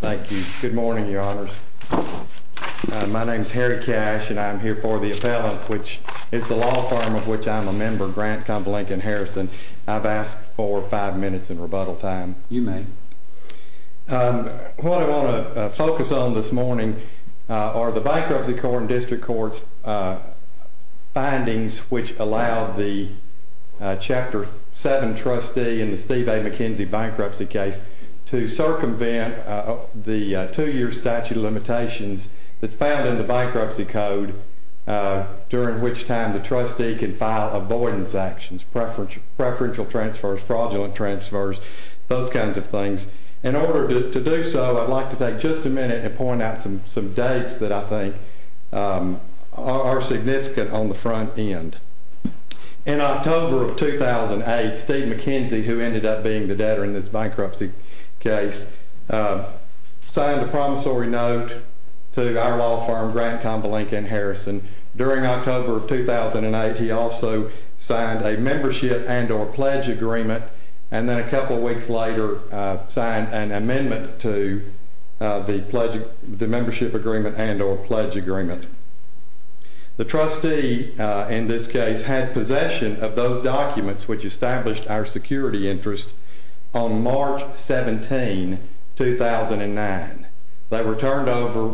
Thank you. Good morning, Your Honors. My name is Harry Cash, and I'm here for the appellant, which is the law firm of which I'm a member, Grant Konvalinka Harrison. I've asked for five minutes in rebuttal time. You may. What I want to focus on this morning are the Bankruptcy Court and District Courts' findings which allow the Chapter 7 trustee in the Steve A. McKenzie bankruptcy case to circumvent the two-year statute of limitations that's found in the bankruptcy code, during which time the trustee can file avoidance actions, preferential transfers, fraudulent transfers, those kinds of things. In order to do so, I'd like to take just a minute and point out some dates that I think are significant on the front end. In October of 2008, Steve McKenzie, who ended up being the debtor in this bankruptcy case, signed a promissory note to our law firm, Grant Konvalinka Harrison. During October of 2008, he also signed a membership and or pledge agreement, and then a couple weeks later signed an amendment to the membership agreement and or pledge agreement. The trustee in this case had possession of those documents which established our security interest on March 17, 2009. They were turned over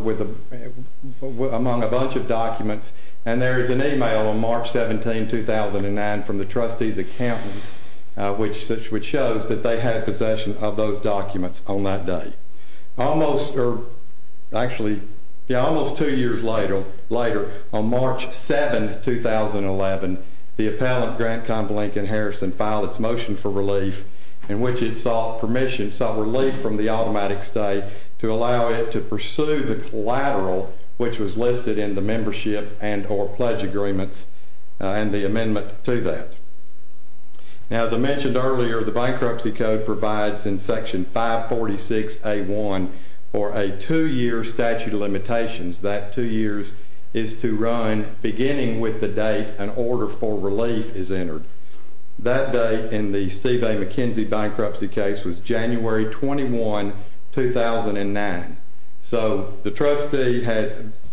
among a bunch of documents, and there is an email on March 17, 2009 from the trustee's accountant which shows that they had possession of those documents on that day. Almost two years later, on March 7, 2011, the appellant, Grant Konvalinka Harrison, filed its motion for relief in which it sought relief from the automatic stay to allow it to pursue the collateral which was listed in the membership and or pledge agreements and the amendment to that. Now, as I mentioned earlier, the bankruptcy code provides in Section 546A1 for a two-year statute of limitations. That two years is to run beginning with the date an order for relief is entered. That date in the Steve A. McKenzie bankruptcy case was January 21, 2009. So the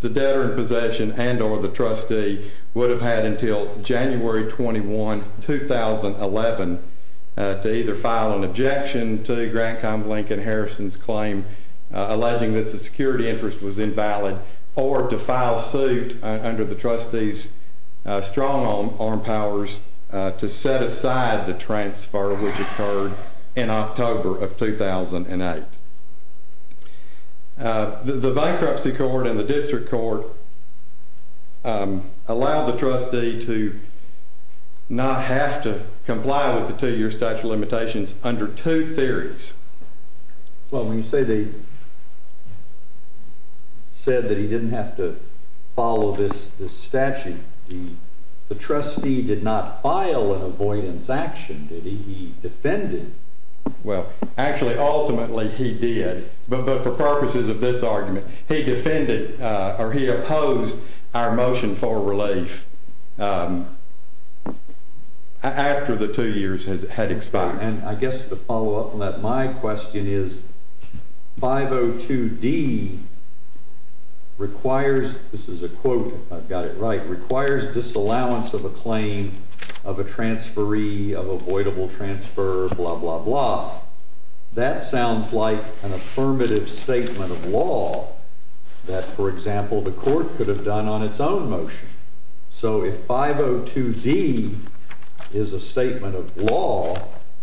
debtor in possession and or the trustee would have had until January 21, 2011 to either file an objection to Grant Konvalinka Harrison's claim alleging that the security interest was invalid or to file suit under the trustee's strong arm powers to set aside the transfer which occurred in October of 2008. The bankruptcy court and the district court allow the trustee to not have to comply with the two-year statute of limitations under two theories. Well, when you say they said that he didn't have to follow this statute, the trustee did not file an avoidance action, did he? He defended. Well, actually, ultimately he did. But for purposes of this argument, he defended or he opposed our motion for relief after the two years had expired. And I guess to follow up on that, my question is 502D requires, this is a quote, if I've got it right, requires disallowance of a claim of a transferee, of avoidable transfer, blah, blah, blah. That sounds like an affirmative statement of law that, for example, the court could have done on its own motion. So if 502D is a statement of law,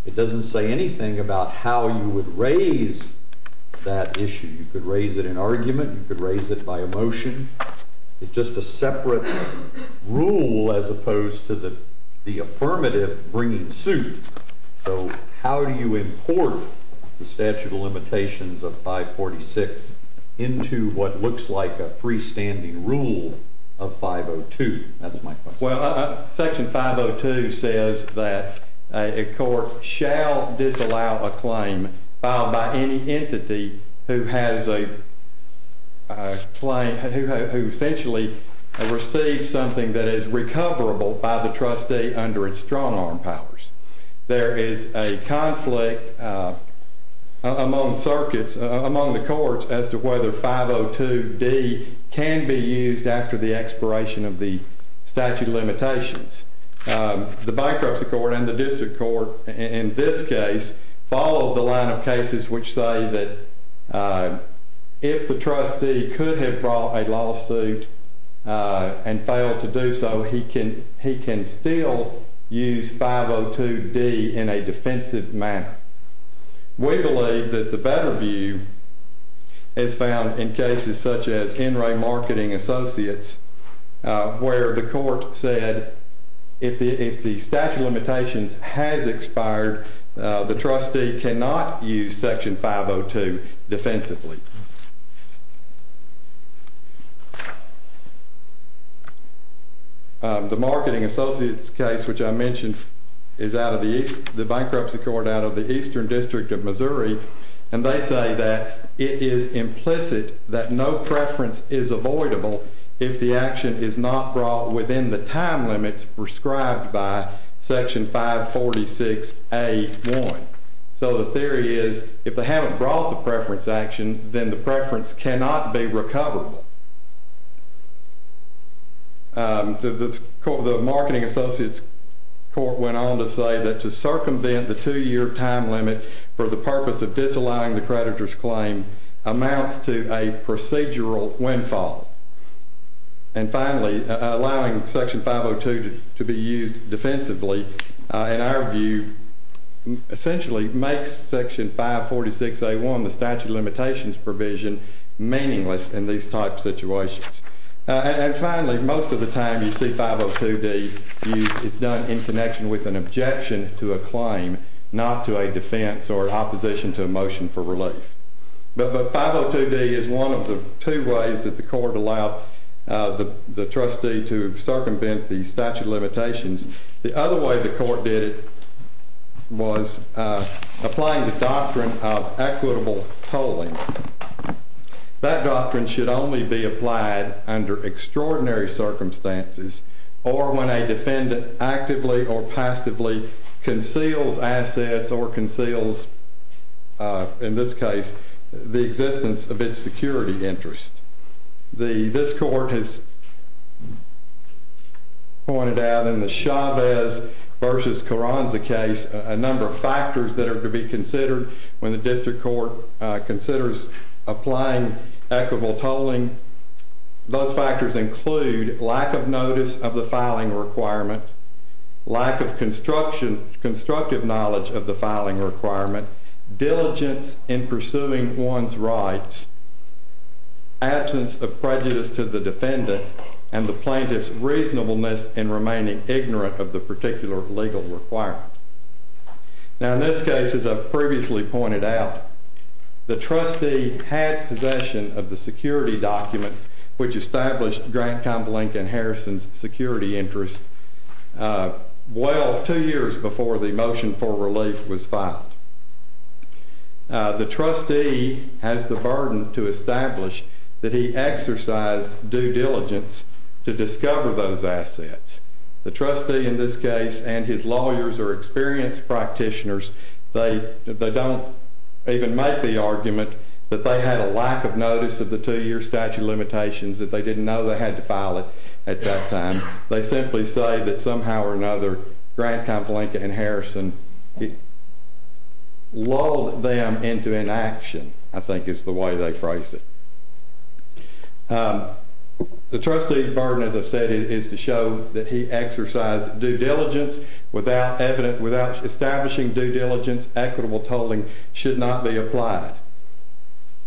it doesn't say anything about how you would raise that issue. You could raise it in argument. You could raise it by a motion. It's just a separate rule as opposed to the affirmative bringing suit. So how do you import the statute of limitations of 546 into what looks like a freestanding rule of 502? That's my question. There is a conflict among the courts as to whether 502D can be used after the expiration of the statute of limitations. The bankruptcy court and the district court in this case follow the line of cases which say that if the trustee could have brought a lawsuit and failed to do so, he can still use 502D in a defensive manner. We believe that the better view is found in cases such as NRA Marketing Associates, where the court said if the statute of limitations has expired, the trustee cannot use Section 502 defensively. The Marketing Associates case, which I mentioned, is the bankruptcy court out of the Eastern District of Missouri. And they say that it is implicit that no preference is avoidable if the action is not brought within the time limits prescribed by Section 546A1. So the theory is if they haven't brought the preference action, then the preference cannot be recoverable. The Marketing Associates court went on to say that to circumvent the two-year time limit for the purpose of disallowing the creditor's claim amounts to a procedural windfall. And finally, allowing Section 502 to be used defensively, in our view, essentially makes Section 546A1, the statute of limitations provision, meaningless in these types of situations. And finally, most of the time you see 502D used, it's done in connection with an objection to a claim, not to a defense or opposition to a motion for relief. But 502D is one of the two ways that the court allowed the trustee to circumvent the statute of limitations. The other way the court did it was applying the doctrine of equitable tolling. That doctrine should only be applied under extraordinary circumstances or when a defendant actively or passively conceals assets or conceals, in this case, the existence of its security interest. This court has pointed out in the Chavez v. Carranza case a number of factors that are to be considered when the district court considers applying equitable tolling. Those factors include lack of notice of the filing requirement, lack of constructive knowledge of the filing requirement, diligence in pursuing one's rights, absence of prejudice to the defendant, and the plaintiff's reasonableness in remaining ignorant of the particular legal requirement. Now, in this case, as I've previously pointed out, the trustee had possession of the security documents which established Grant Convalinck and Harrison's security interest well two years before the motion for relief was filed. The trustee has the burden to establish that he exercised due diligence to discover those assets. The trustee, in this case, and his lawyers are experienced practitioners. They don't even make the argument that they had a lack of notice of the two-year statute of limitations, that they didn't know they had to file it at that time. They simply say that somehow or another, Grant Convalinck and Harrison lulled them into inaction, I think is the way they phrased it. The trustee's burden, as I've said, is to show that he exercised due diligence without establishing due diligence, equitable tolling should not be applied.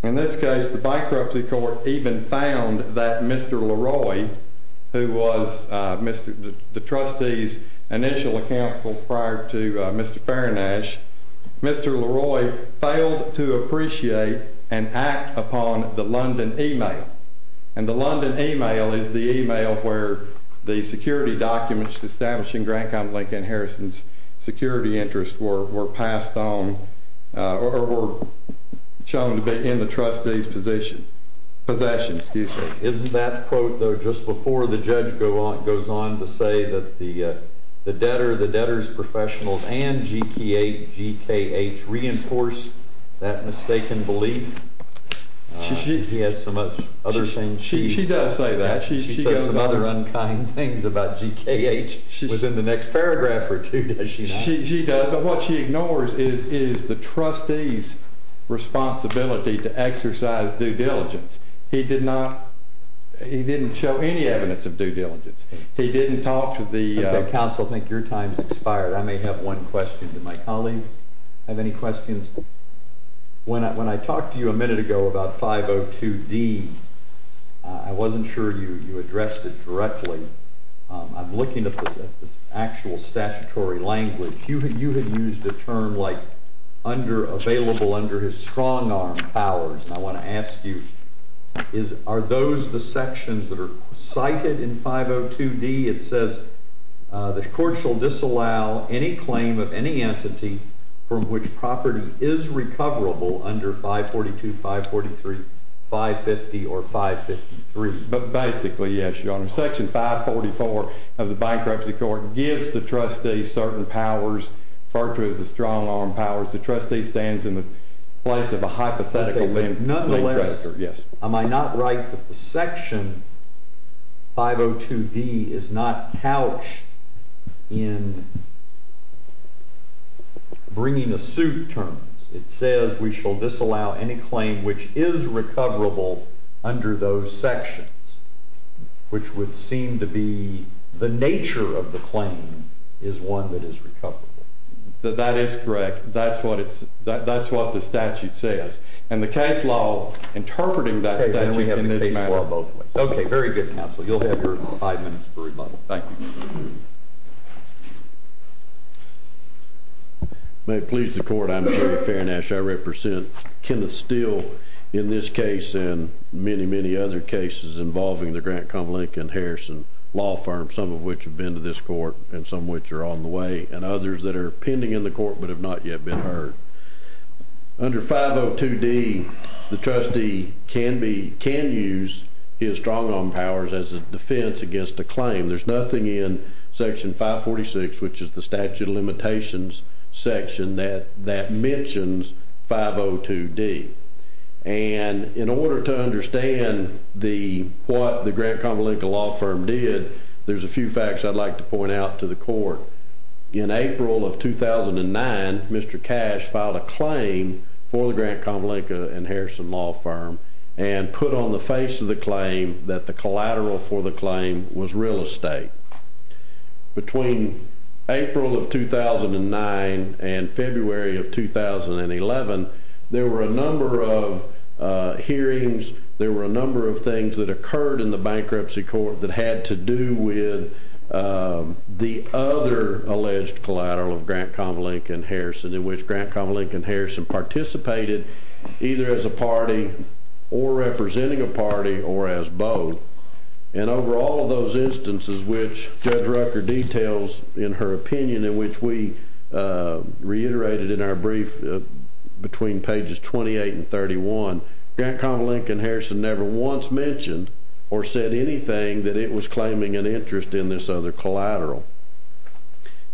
In this case, the bankruptcy court even found that Mr. Leroy, who was the trustee's initial counsel prior to Mr. Farrinash, Mr. Leroy failed to appreciate and act upon the London email. The London email is the email where the security documents establishing Grant Convalinck and Harrison's security interest were shown to be in the trustee's possession. Isn't that quote, though, just before the judge goes on to say that the debtor, the debtor's professionals, and GKH reinforce that mistaken belief? She does say that. She says some other unkind things about GKH within the next paragraph or two, does she not? She does, but what she ignores is the trustee's responsibility to exercise due diligence. He did not, he didn't show any evidence of due diligence. He didn't talk to the- Okay, counsel, I think your time's expired. I may have one question to my colleagues. Have any questions? When I talked to you a minute ago about 502D, I wasn't sure you addressed it directly. I'm looking at the actual statutory language. You had used a term like available under his strong arm powers, and I want to ask you, are those the sections that are cited in 502D? It says the court shall disallow any claim of any entity from which property is recoverable under 542, 543, 550, or 553. Basically, yes, Your Honor. Section 544 of the bankruptcy court gives the trustee certain powers, referred to as the strong arm powers. The trustee stands in the place of a hypothetical lien creditor. Nonetheless, am I not right that the section 502D is not couched in bringing a suit term? It says we shall disallow any claim which is recoverable under those sections, which would seem to be the nature of the claim is one that is recoverable. That is correct. That's what the statute says. And the case law interpreting that statute in this matter- Okay, then we have the case law both ways. Okay, very good, counsel. You'll have your five minutes for rebuttal. Thank you. May it please the court, I'm Jerry Fairnash. I represent Kenneth Steele in this case and many, many other cases involving the Grant, Connell, Lincoln, Harrison law firm, some of which have been to this court and some which are on the way, and others that are pending in the court but have not yet been heard. Under 502D, the trustee can use his strong arm powers as a defense against a claim. There's nothing in Section 546, which is the statute of limitations section, that mentions 502D. And in order to understand what the Grant, Connell, Lincoln law firm did, there's a few facts I'd like to point out to the court. In April of 2009, Mr. Cash filed a claim for the Grant, Connell, Lincoln, and Harrison law firm and put on the face of the claim that the collateral for the claim was real estate. Between April of 2009 and February of 2011, there were a number of hearings, there were a number of things that occurred in the bankruptcy court that had to do with the other alleged collateral of Grant, Connell, Lincoln, and Harrison, in which Grant, Connell, Lincoln, and Harrison participated either as a party or representing a party or as both. And over all of those instances, which Judge Rucker details in her opinion and which we reiterated in our brief between pages 28 and 31, Grant, Connell, Lincoln, and Harrison never once mentioned or said anything that it was claiming an interest in this other collateral.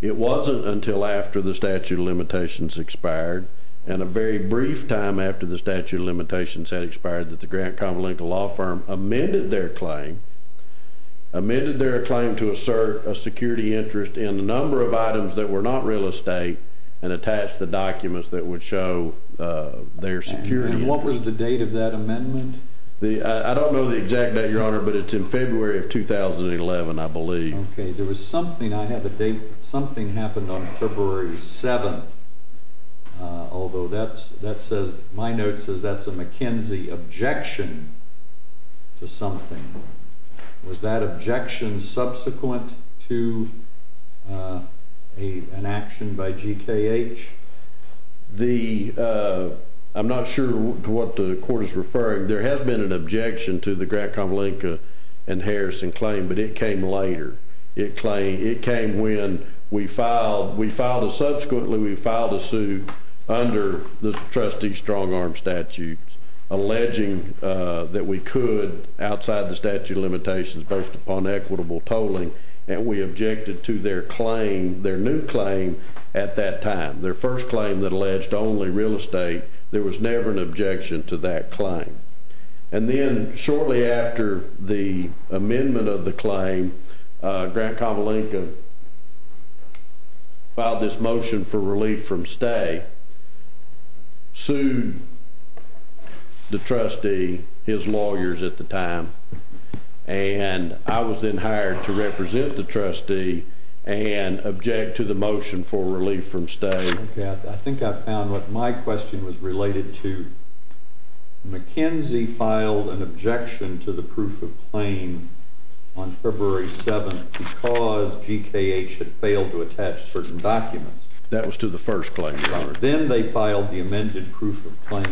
It wasn't until after the statute of limitations expired and a very brief time after the statute of limitations had expired that the Grant, Connell, Lincoln law firm amended their claim to assert a security interest in a number of items that were not real estate and attached the documents that would show their security interest. And what was the date of that amendment? I don't know the exact date, Your Honor, but it's in February of 2011, I believe. Okay. There was something. I have a date. Something happened on February 7th, although my note says that's a McKenzie objection to something. Was that objection subsequent to an action by GKH? I'm not sure to what the court is referring. There has been an objection to the Grant, Connell, Lincoln, and Harrison claim, but it came later. It came when we filed. Subsequently, we filed a suit under the trustee's strong-arm statute alleging that we could, outside the statute of limitations, based upon equitable tolling, and we objected to their claim, their new claim at that time. Their first claim that alleged only real estate. There was never an objection to that claim. And then shortly after the amendment of the claim, Grant, Connell, Lincoln filed this motion for relief from stay, sued the trustee, his lawyers at the time, and I was then hired to represent the trustee and object to the motion for relief from stay. Okay. I think I found what my question was related to. McKenzie filed an objection to the proof of claim on February 7th because GKH had failed to attach certain documents. That was to the first claim, Your Honor. Then they filed the amended proof of claim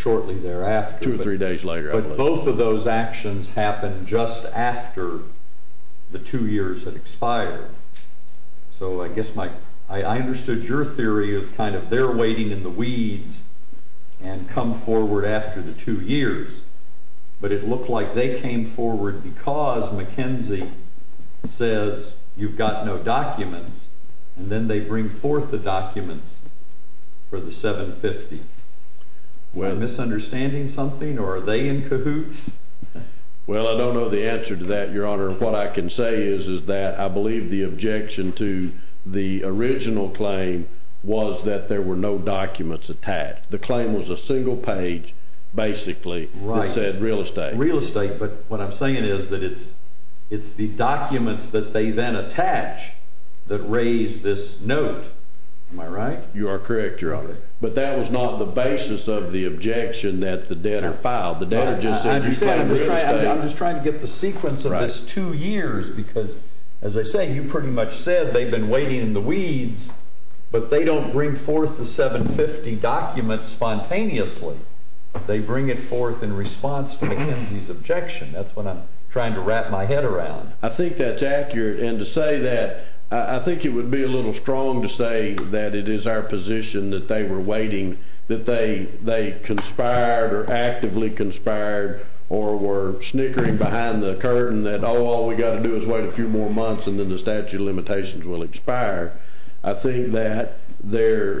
shortly thereafter. Two or three days later. But both of those actions happened just after the two years had expired. So I guess I understood your theory as kind of they're waiting in the weeds and come forward after the two years, but it looked like they came forward because McKenzie says you've got no documents, and then they bring forth the documents for the $750,000. Are they misunderstanding something, or are they in cahoots? Well, I don't know the answer to that, Your Honor. What I can say is that I believe the objection to the original claim was that there were no documents attached. The claim was a single page, basically, that said real estate. Real estate, but what I'm saying is that it's the documents that they then attach that raise this note. Am I right? You are correct, Your Honor. But that was not the basis of the objection that the debtor filed. The debtor just said you claim real estate. I'm just trying to get the sequence of this two years because, as I say, you pretty much said they've been waiting in the weeds, but they don't bring forth the $750,000 document spontaneously. They bring it forth in response to McKenzie's objection. That's what I'm trying to wrap my head around. I think that's accurate. And to say that, I think it would be a little strong to say that it is our position that they were waiting, that they conspired or actively conspired or were snickering behind the curtain that, oh, all we've got to do is wait a few more months and then the statute of limitations will expire. I think that their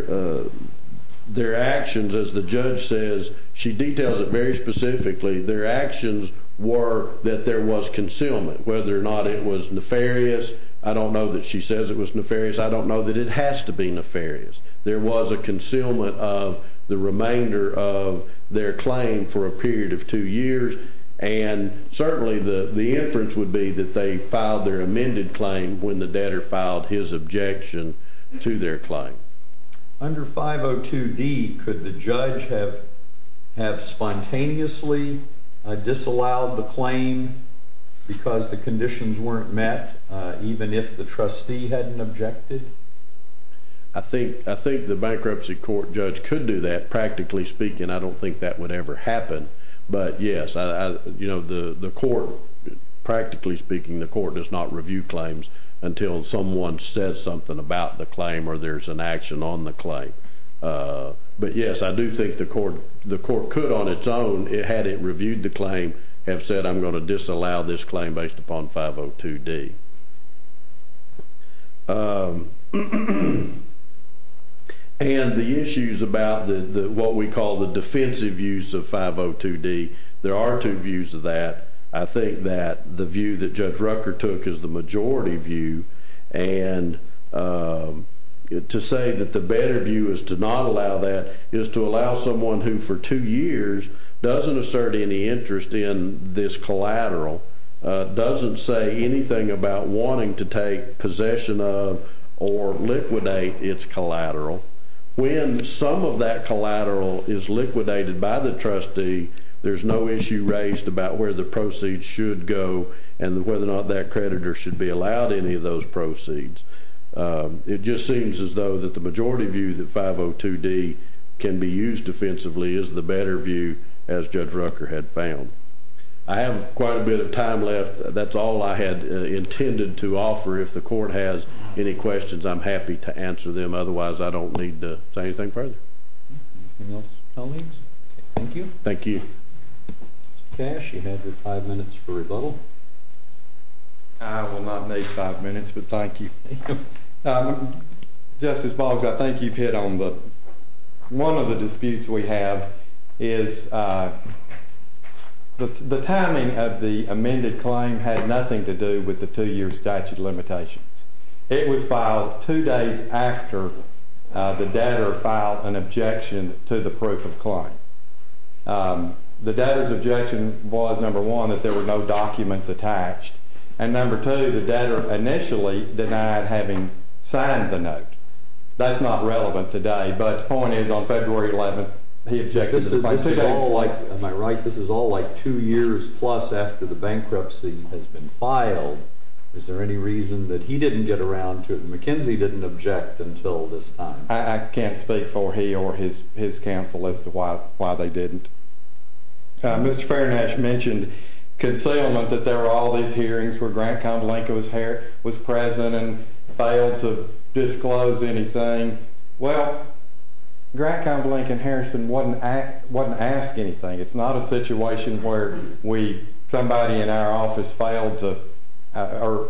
actions, as the judge says, she details it very specifically, their actions were that there was concealment, whether or not it was nefarious. I don't know that she says it was nefarious. I don't know that it has to be nefarious. There was a concealment of the remainder of their claim for a period of two years, and certainly the inference would be that they filed their amended claim when the debtor filed his objection to their claim. Under 502D, could the judge have spontaneously disallowed the claim because the conditions weren't met, even if the trustee hadn't objected? I think the bankruptcy court judge could do that. Practically speaking, I don't think that would ever happen. But, yes, you know, the court, practically speaking, the court does not review claims until someone says something about the claim or there's an action on the claim. But, yes, I do think the court could on its own, had it reviewed the claim, have said, I'm going to disallow this claim based upon 502D. And the issues about what we call the defensive use of 502D, there are two views of that. I think that the view that Judge Rucker took is the majority view. And to say that the better view is to not allow that is to allow someone who, for two years, doesn't assert any interest in this collateral, doesn't say anything about wanting to take possession of or liquidate its collateral. When some of that collateral is liquidated by the trustee, there's no issue raised about where the proceeds should go and whether or not that creditor should be allowed any of those proceeds. It just seems as though that the majority view that 502D can be used defensively is the better view, as Judge Rucker had found. I have quite a bit of time left. That's all I had intended to offer. If the court has any questions, I'm happy to answer them. Otherwise, I don't need to say anything further. Anything else, colleagues? Thank you. Thank you. Mr. Cash, you have five minutes for rebuttal. I will not need five minutes, but thank you. Justice Boggs, I think you've hit on one of the disputes we have. The timing of the amended claim had nothing to do with the two-year statute limitations. It was filed two days after the debtor filed an objection to the proof of claim. The debtor's objection was, number one, that there were no documents attached, and, number two, the debtor initially denied having signed the note. That's not relevant today, but the point is, on February 11th, he objected. Am I right? This is all, like, two years plus after the bankruptcy has been filed. Is there any reason that he didn't get around to it and McKenzie didn't object until this time? I can't speak for he or his counsel as to why they didn't. Mr. Fairnash mentioned concealment, that there were all these hearings where Grant Convalinca was present and failed to disclose anything. Well, Grant Convalinca and Harrison wasn't asked anything. It's not a situation where somebody in our office failed to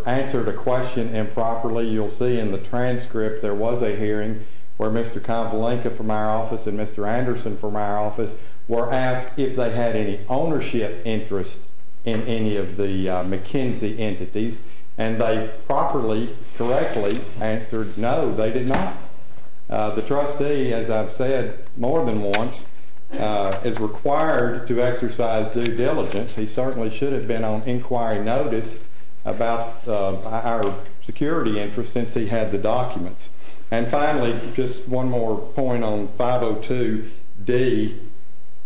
answer the question improperly. You'll see in the transcript there was a hearing where Mr. Convalinca from our office and Mr. Anderson from our office were asked if they had any ownership interest in any of the McKenzie entities, and they properly, correctly answered no, they did not. The trustee, as I've said more than once, is required to exercise due diligence. He certainly should have been on inquiry notice about our security interest since he had the documents. And finally, just one more point on 502D,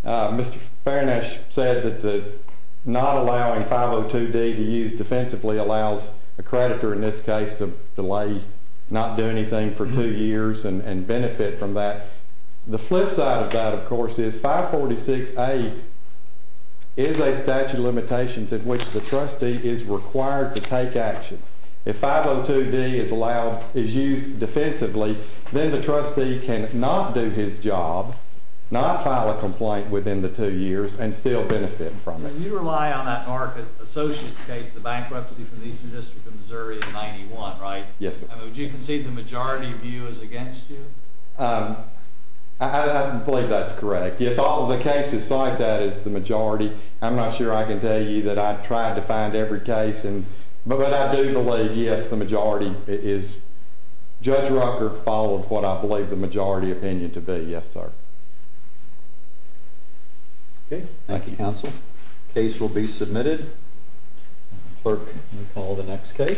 Mr. Fairnash said that not allowing 502D to use defensively allows a creditor, in this case, to delay not doing anything for two years and benefit from that. The flip side of that, of course, is 546A is a statute of limitations in which the trustee is required to take action. If 502D is used defensively, then the trustee can not do his job, not file a complaint within the two years, and still benefit from it. You rely on that market associates case, the bankruptcy from the Eastern District of Missouri in 91, right? Yes, sir. Would you concede the majority view is against you? I believe that's correct. Yes, all of the cases cite that as the majority. I'm not sure I can tell you that I've tried to find every case, but I do believe, yes, the majority is. Judge Rucker followed what I believe the majority opinion to be, yes, sir. Okay. Thank you, counsel. Case will be submitted. Clerk will call the next case.